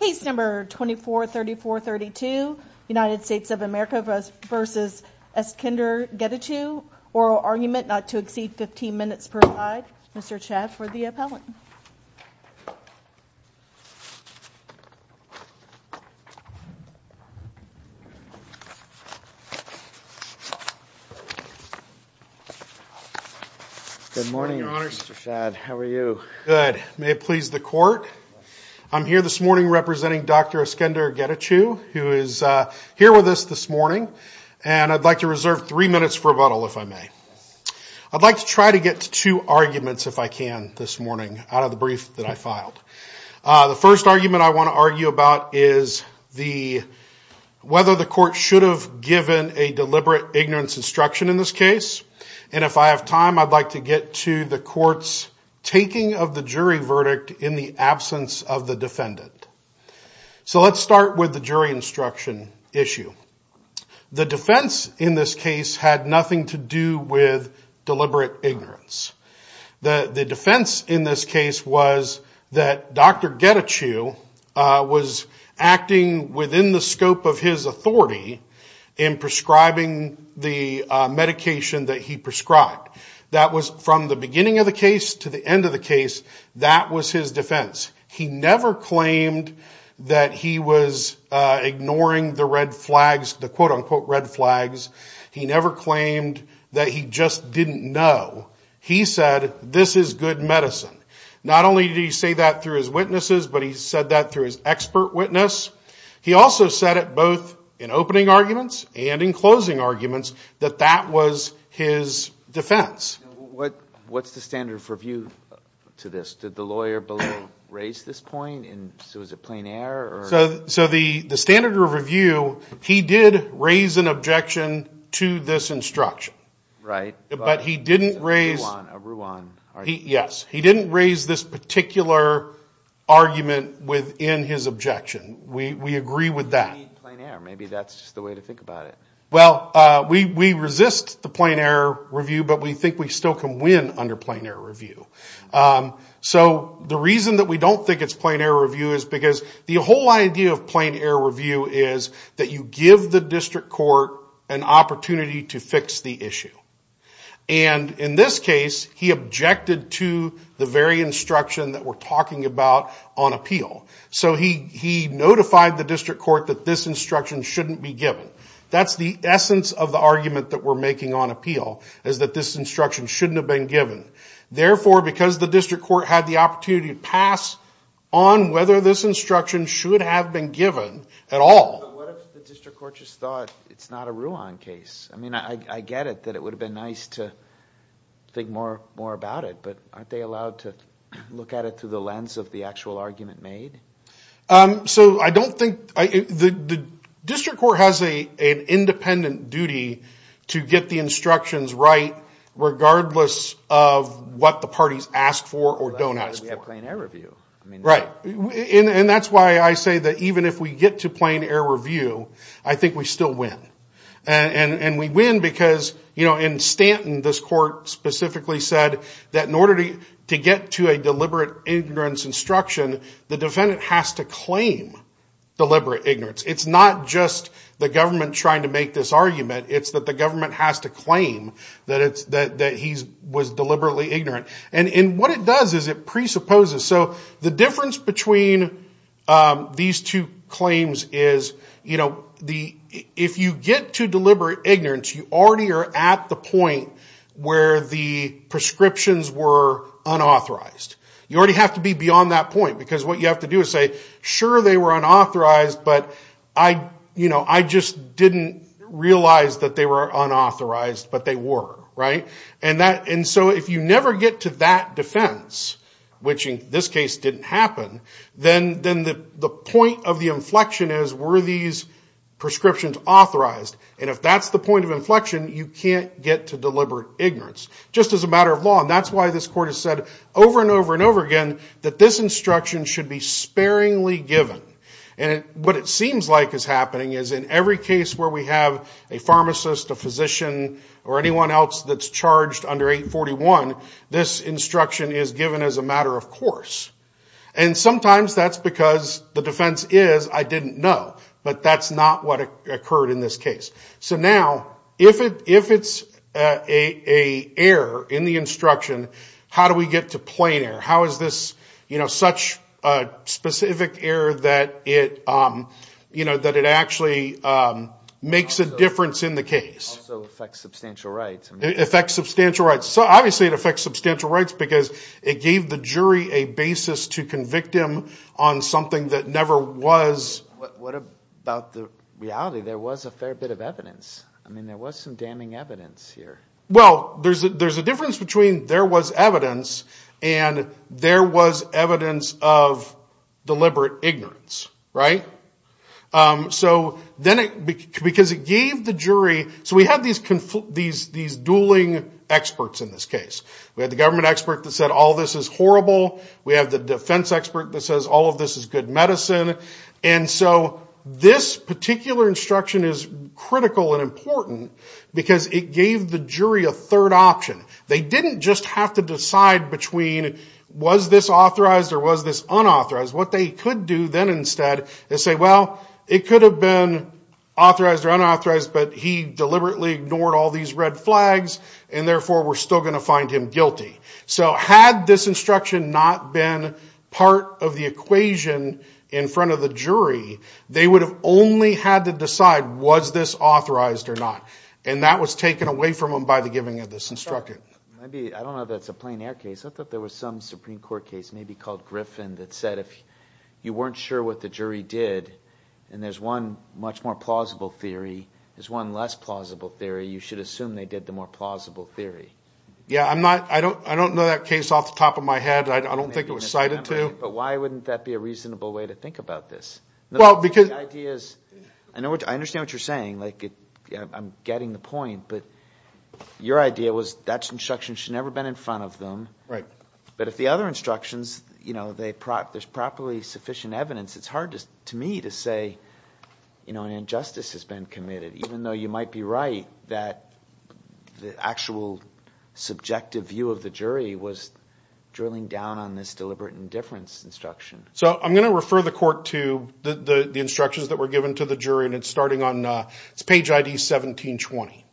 case number 24 34 32 United States of America vs. Eskender Getachew oral argument not to exceed 15 minutes per side. Mr. Chadd for the appellant Good morning, your honor. Mr. Chadd, how are you? Good. May it please the court? I'm here this morning representing. Dr. Eskender Getachew who is here with us this morning And I'd like to reserve three minutes for rebuttal if I may I'd like to try to get to two arguments if I can this morning out of the brief that I filed the first argument I want to argue about is the Whether the court should have given a deliberate ignorance instruction in this case And if I have time I'd like to get to the court's Taking of the jury verdict in the absence of the defendant So let's start with the jury instruction issue The defense in this case had nothing to do with deliberate ignorance The the defense in this case was that dr. Getachew was acting within the scope of his authority in prescribing the Case to the end of the case that was his defense. He never claimed that he was Ignoring the red flags the quote-unquote red flags. He never claimed that he just didn't know He said this is good medicine. Not only did he say that through his witnesses, but he said that through his expert witness He also said it both in opening arguments and in closing arguments that that was his defense What what's the standard for view to this did the lawyer below raise this point? And so is it plain air so so the the standard of review? He did raise an objection to this instruction right, but he didn't raise Yes, he didn't raise this particular Argument within his objection we we agree with that Maybe that's the way to think about it Well, we resist the plain air review, but we think we still can win under plain air review so the reason that we don't think it's plain air review is because the whole idea of plain air review is that you give the district court an opportunity to fix the issue and In this case he objected to the very instruction that we're talking about on appeal So he he notified the district court that this instruction shouldn't be given That's the essence of the argument that we're making on appeal is that this instruction shouldn't have been given Therefore because the district court had the opportunity to pass on whether this instruction should have been given at all It's not a Ruan case, I mean I get it that it would have been nice to Think more more about it, but aren't they allowed to look at it through the lens of the actual argument made? so I don't think I the District Court has a an independent duty to get the instructions, right? regardless of What the parties asked for or don't ask for an air review? Right in and that's why I say that even if we get to plain air review I think we still win and and and we win because you know in Stanton this court Specifically said that in order to get to a deliberate ignorance instruction the defendant has to claim Deliberate ignorance. It's not just the government trying to make this argument It's that the government has to claim that it's that that he was deliberately ignorant and in what it does is it presupposes? so the difference between These two claims is you know the if you get to deliberate ignorance you already are at the point where the prescriptions were Unauthorized you already have to be beyond that point because what you have to do is say sure they were unauthorized But I you know I just didn't realize that they were unauthorized But they were right and that and so if you never get to that defense Which in this case didn't happen then then the the point of the inflection is were these? Prescriptions authorized and if that's the point of inflection you can't get to deliberate ignorance Just as a matter of law and that's why this court has said over and over and over again that this instruction should be sparingly given and what it seems like is happening is in every case where we have a pharmacist a physician or anyone else that's charged under 841 this instruction is given as a matter of course and Sometimes that's because the defense is I didn't know but that's not what occurred in this case So now if it if it's a a error in the instruction How do we get to plain error? How is this you know such? specific error that it You know that it actually Makes a difference in the case Substantial rights it affects substantial rights so obviously it affects substantial rights because it gave the jury a basis to convict him on Something that never was what about the reality there was a fair bit of evidence I mean there was some damning evidence here. Well. There's there's a difference between there was evidence and there was evidence of deliberate ignorance right So then it because it gave the jury so we had these conflict these these dueling Experts in this case we had the government expert that said all this is horrible We have the defense expert that says all of this is good medicine And so this particular instruction is critical and important because it gave the jury a third option They didn't just have to decide between Was this authorized or was this unauthorized what they could do then instead they say well it could have been Authorized or unauthorized, but he deliberately ignored all these red flags and therefore we're still going to find him guilty So had this instruction not been part of the equation in front of the jury They would have only had to decide was this authorized or not and that was taken away from him by the giving of this Instructed I don't know that's a plain-air case I thought there was some Supreme Court case maybe called Griffin that said if you weren't sure what the jury did And there's one much more plausible theory. There's one less plausible theory. You should assume. They did the more plausible theory Yeah, I'm not I don't I don't know that case off the top of my head I don't think it was cited to but why wouldn't that be a reasonable way to think about this well because ideas I know what I understand what you're saying like it. I'm getting the point but Your idea was that's instruction should never been in front of them right, but if the other instructions You know they practice properly sufficient evidence. It's hard to me to say You know an injustice has been committed even though you might be right that the actual Subjective view of the jury was drilling down on this deliberate indifference instruction So I'm gonna refer the court to the the instructions that were given to the jury and it's starting on its page ID 1720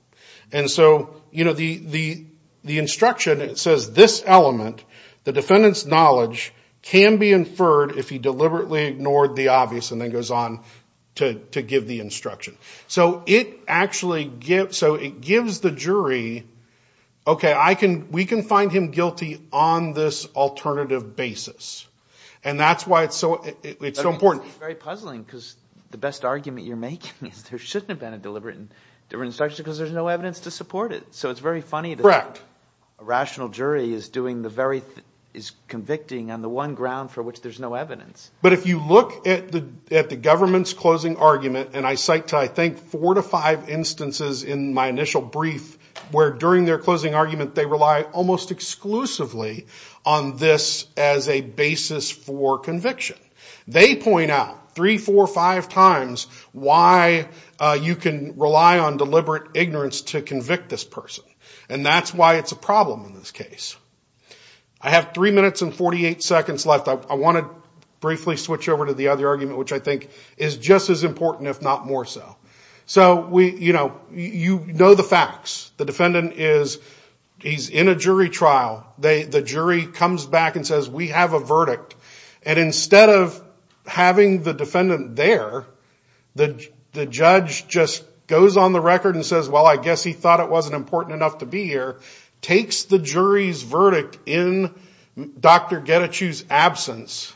and so you know the the the instruction it says this element the defendants knowledge Can be inferred if he deliberately ignored the obvious and then goes on to give the instruction So it actually gives so it gives the jury Okay, I can we can find him guilty on this alternative basis And that's why it's so it's so important very puzzling because the best argument you're making is there shouldn't have been a deliberate Instruction because there's no evidence to support it So it's very funny that a rational jury is doing the very thing is Convicting on the one ground for which there's no evidence But if you look at the at the government's closing argument And I cite to I think four to five instances in my initial brief where during their closing argument they rely almost exclusively on this as a basis for conviction they point out three four or five times why You can rely on deliberate ignorance to convict this person, and that's why it's a problem in this case I Have three minutes and 48 seconds left I want to briefly switch over to the other argument which I think is just as important if not more so So we you know you know the facts the defendant is He's in a jury trial. They the jury comes back and says we have a verdict and instead of Having the defendant there The the judge just goes on the record and says well I guess he thought it wasn't important enough to be here takes the jury's verdict in dr. Get a choose absence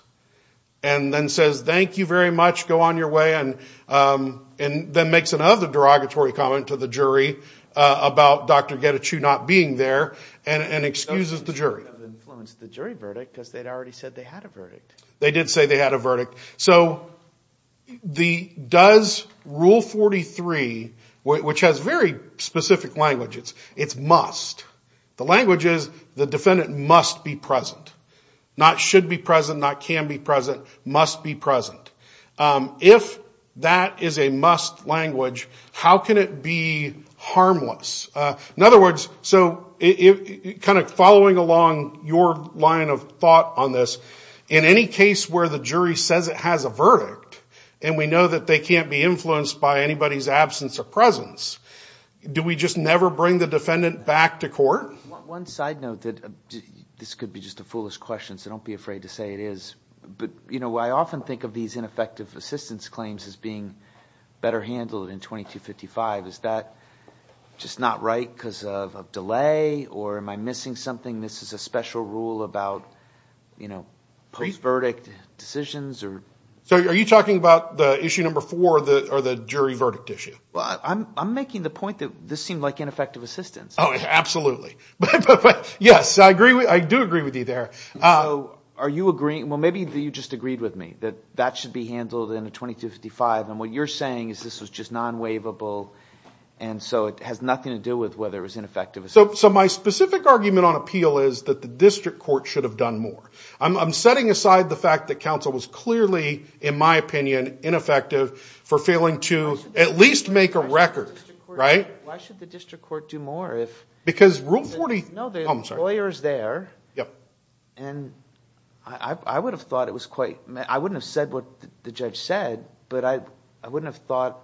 and Then says thank you very much go on your way and And then makes another derogatory comment to the jury About dr. Get a true not being there and and excuses the jury The jury verdict because they'd already said they had a verdict they did say they had a verdict so the does rule 43 which has very specific language It's it's must the language is the defendant must be present not should be present not can be present must be present If that is a must language, how can it be? Harmless in other words, so Kind of following along your line of thought on this in any case where the jury says it has a verdict And we know that they can't be influenced by anybody's absence of presence Do we just never bring the defendant back to court one side note that? This could be just a foolish question so don't be afraid to say it is But you know I often think of these ineffective assistance claims as being better handled in 2255 is that Just not right because of delay or am I missing something. This is a special rule about You know post verdict decisions, or so are you talking about the issue number four the or the jury verdict issue? Well, I'm making the point that this seemed like ineffective assistance. Oh absolutely Yes, I agree with I do agree with you there. Oh, are you agreeing? Well, maybe you just agreed with me that that should be handled in a 2255 and what you're saying is this was just non waivable and So it has nothing to do with whether it was ineffective so so my specific Argument on appeal is that the district court should have done more I'm setting aside the fact that counsel was clearly in my opinion ineffective for failing to at least make a record Right why should the district court do more if because rule 40 no there's lawyers there. Yep, and I Would have thought it was quite I wouldn't have said what the judge said, but I I wouldn't have thought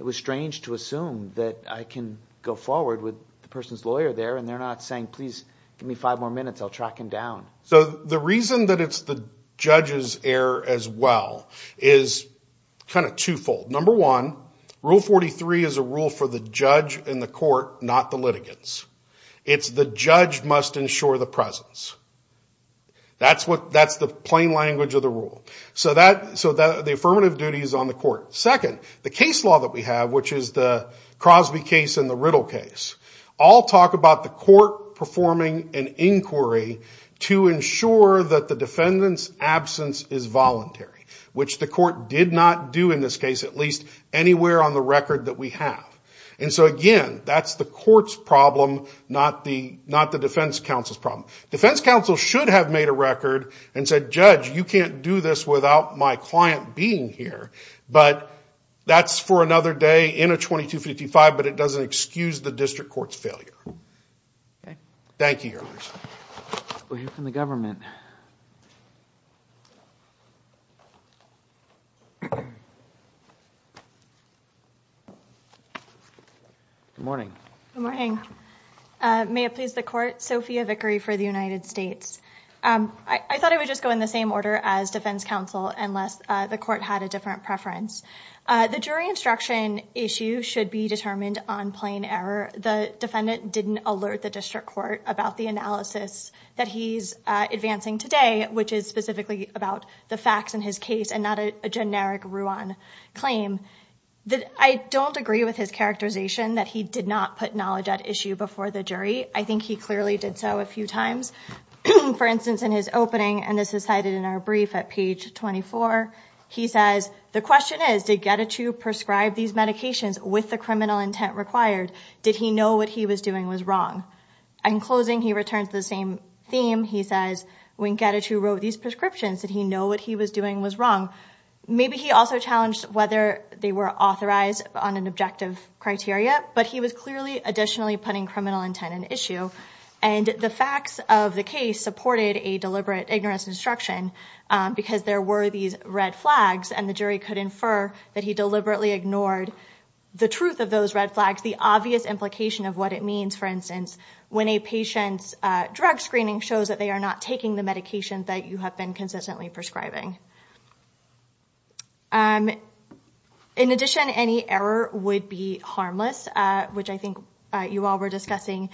It was strange to assume that I can go forward with the person's lawyer there, and they're not saying please give me five more minutes I'll track him down so the reason that it's the judges air as well is Kind of twofold number one rule 43 is a rule for the judge in the court not the litigants It's the judge must ensure the presence That's what that's the plain language of the rule so that so that the affirmative duty is on the court second the case law that We have which is the Crosby case in the riddle case all talk about the court performing an inquiry To ensure that the defendants absence is voluntary Which the court did not do in this case at least anywhere on the record that we have and so again That's the courts problem Not the not the defense counsel's problem defense counsel should have made a record and said judge You can't do this without my client being here, but that's for another day in a 2255 But it doesn't excuse the district courts failure Thank you From the government Good morning May it please the court Sophia Vickery for the United States I thought it would just go in the same order as defense counsel unless the court had a different preference The jury instruction issue should be determined on plain error The defendant didn't alert the district court about the analysis that he's advancing today Which is specifically about the facts in his case and not a generic Ruan claim That I don't agree with his characterization that he did not put knowledge at issue before the jury I think he clearly did so a few times For instance in his opening and this is cited in our brief at page 24 He says the question is to get it to prescribe these medications with the criminal intent required Did he know what he was doing was wrong and in closing he returns the same theme He says we get it who wrote these prescriptions that he know what he was doing was wrong Maybe he also challenged whether they were authorized on an objective criteria But he was clearly additionally putting criminal intent an issue and the facts of the case supported a deliberate ignorance instruction Because there were these red flags and the jury could infer that he deliberately ignored the truth of those red flags the obvious implication of what it means for instance when a patient's Drug screening shows that they are not taking the medication that you have been consistently prescribing And In addition any error would be harmless Which I think you all were discussing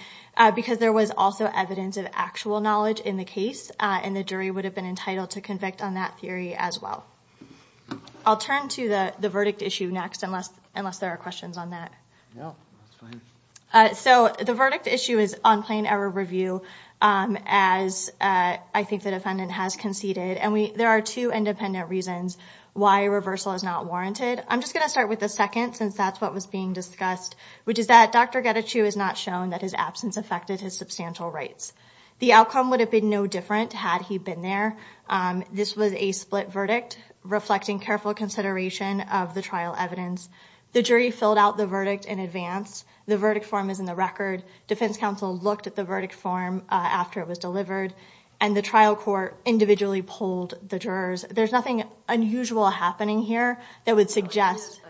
Because there was also evidence of actual knowledge in the case and the jury would have been entitled to convict on that theory as well I'll turn to the the verdict issue next unless unless there are questions on that So the verdict issue is on plain error review As I think the defendant has conceded and we there are two independent reasons why reversal is not warranted I'm just going to start with the second since that's what was being discussed Which is that? Dr. Getachew has not shown that his absence affected his substantial rights. The outcome would have been no different had he been there This was a split verdict Reflecting careful consideration of the trial evidence the jury filled out the verdict in advance The verdict form is in the record defense counsel looked at the verdict form after it was delivered and the trial court Individually pulled the jurors. There's nothing unusual happening here that would suggest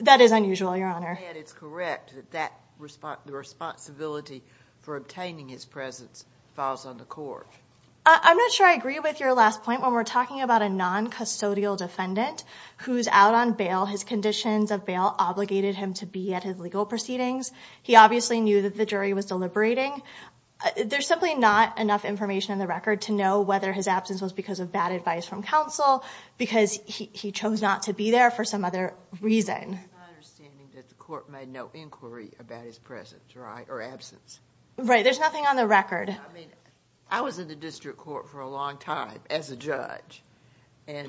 That is unusual your honor For obtaining his presence falls on the court I'm not sure. I agree with your last point when we're talking about a non custodial defendant Who's out on bail his conditions of bail obligated him to be at his legal proceedings. He obviously knew that the jury was deliberating There's simply not enough information in the record to know whether his absence was because of bad advice from counsel Because he chose not to be there for some other reason Right, there's nothing on the record. I was in the district court for a long time as a judge and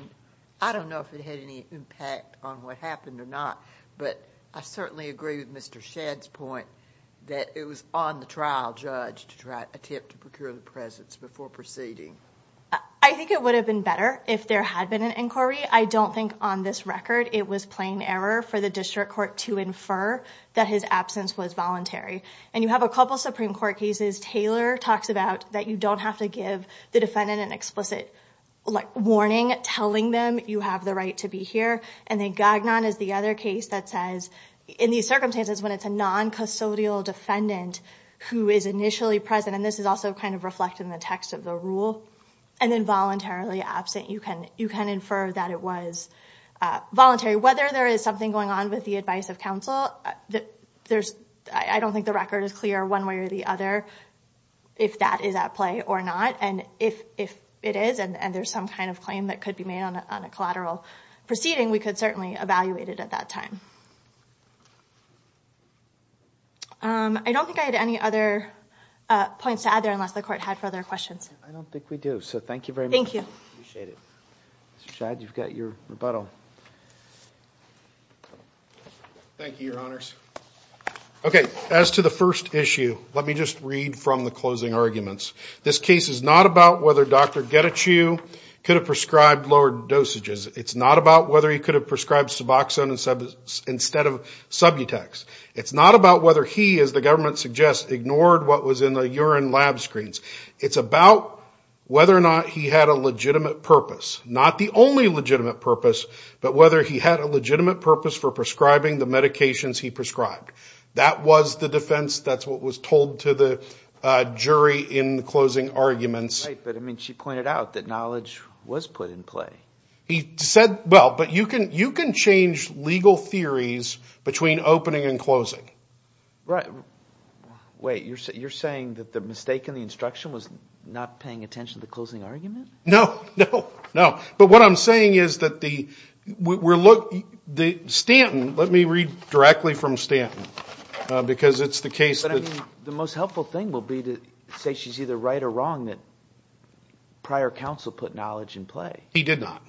I don't know if it had any impact on what happened or not, but I certainly agree with mr Shad's point that it was on the trial judge to try attempt to procure the presence before proceeding I think it would have been better if there had been an inquiry I don't think on this record It was plain error for the district court to infer that his absence was voluntary and you have a couple Supreme Court cases Taylor talks about that. You don't have to give the defendant an explicit like warning telling them you have the right to be here And then Gagnon is the other case that says in these circumstances when it's a non custodial defendant Who is initially present and this is also kind of reflect in the text of the rule and then voluntarily absent you can you can infer that it was Voluntary whether there is something going on with the advice of counsel that there's I don't think the record is clear one way or the other If that is at play or not And if if it is and there's some kind of claim that could be made on a collateral proceeding we could certainly evaluate it at that time I Don't think I had any other Points to add there unless the court had further questions. I don't think we do so. Thank you very much. Thank you Shad you've got your rebuttal Thank you your honors Okay as to the first issue. Let me just read from the closing arguments This case is not about whether dr. Get a chew could have prescribed lowered dosages It's not about whether he could have prescribed suboxone and said instead of subutex It's not about whether he is the government suggests ignored. What was in the urine lab screens. It's about Whether or not he had a legitimate purpose not the only legitimate purpose But whether he had a legitimate purpose for prescribing the medications he prescribed that was the defense. That's what was told to the Jury in the closing arguments, but I mean she pointed out that knowledge was put in play He said well, but you can you can change legal theories between opening and closing right Wait, you're saying that the mistake in the instruction was not paying attention to the closing argument No, no, no, but what I'm saying is that the we're look the Stanton. Let me read directly from Stanton because it's the case that the most helpful thing will be to say she's either right or wrong that Prior counsel put knowledge in play he did not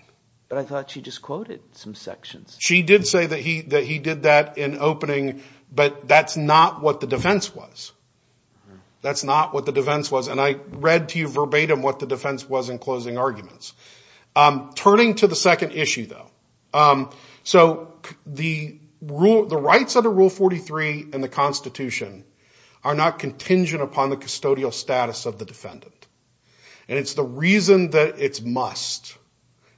but I thought she just quoted some sections She did say that he that he did that in opening, but that's not what the defense was That's not what the defense was and I read to you verbatim what the defense was in closing arguments Turning to the second issue though so the rule the rights under rule 43 and the Constitution are not contingent upon the custodial status of the defendant And it's the reason that it's must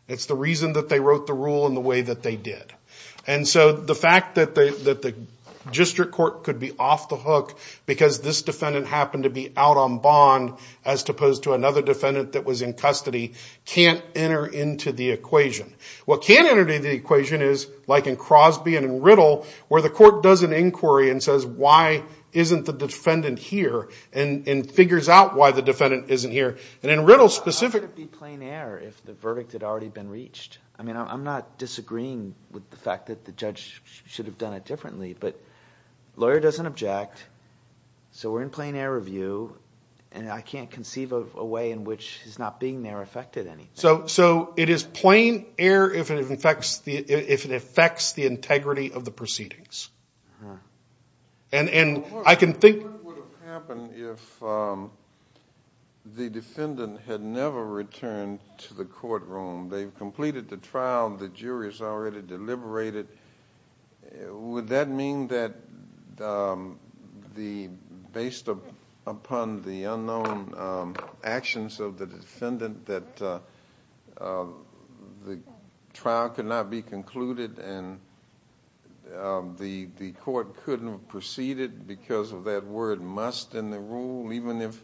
it's the reason that they wrote the rule in the way that they did and so the fact that they that the District Court could be off the hook because this defendant happened to be out on bond as Opposed to another defendant that was in custody can't enter into the equation What can't enter the equation is like in Crosby and in riddle where the court does an inquiry and says why? Isn't the defendant here and in figures out why the defendant isn't here and in riddle specific It'd be plain air if the verdict had already been reached I mean, I'm not disagreeing with the fact that the judge should have done it differently, but Lawyer doesn't object So we're in plain air review, and I can't conceive of a way in which he's not being there affected any so so it is plain air if it affects the if it affects the integrity of the proceedings and And and I can think The defendant had never returned to the courtroom they've completed the trial the jury is already deliberated would that mean that The based upon the unknown actions of the defendant that The trial could not be concluded and The the court couldn't have proceeded because of that word must in the rule even if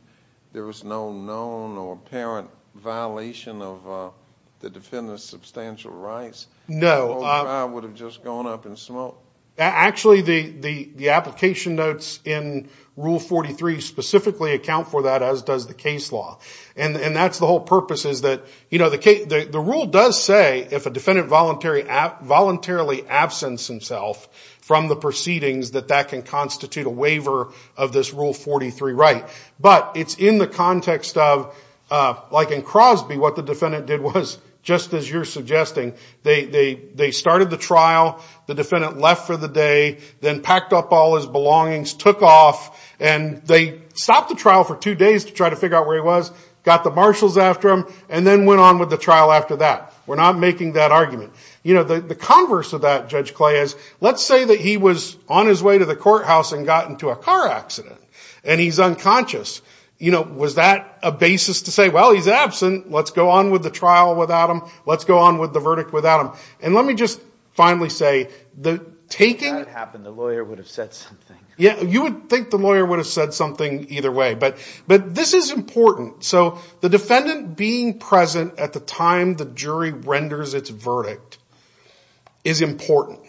there was no known or apparent violation of The defendant's substantial rights no I would have just gone up in smoke Actually the the the application notes in rule 43 Specifically account for that as does the case law and and that's the whole purpose is that you know the case the the rule does Say if a defendant voluntary Voluntarily absence himself from the proceedings that that can constitute a waiver of this rule 43, right? but it's in the context of Like in Crosby what the defendant did was just as you're suggesting They they they started the trial the defendant left for the day then packed up all his belongings took off And they stopped the trial for two days to try to figure out where he was Got the marshals after him and then went on with the trial after that we're not making that argument you know the the converse of that judge clay is let's say that he was on his way to the courthouse and got into a Car accident, and he's unconscious. You know was that a basis to say well. He's absent. Let's go on with the trial without him Let's go on with the verdict without him, and let me just finally say the taking Yeah, you would think the lawyer would have said something either way, but but this is important So the defendant being present at the time the jury renders its verdict is important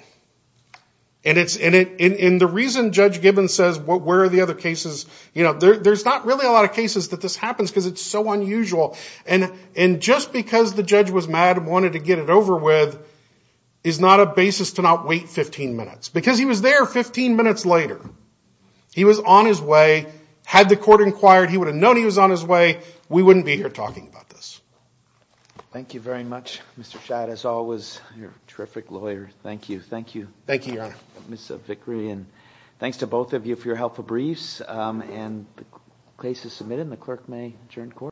and It's in it in the reason judge Gibbons says what where are the other cases you know there? There's not really a lot of cases that this happens because it's so unusual and in just because the judge was mad wanted to get It over with is not a basis to not wait 15 minutes because he was there 15 minutes later He was on his way had the court inquired. He would have known he was on his way We wouldn't be here talking about this Thank you very much. Mr.. Shad as always your terrific lawyer. Thank you. Thank you. Thank you I miss a victory and thanks to both of you for your helpful briefs and Places submitted in the clerk may adjourn court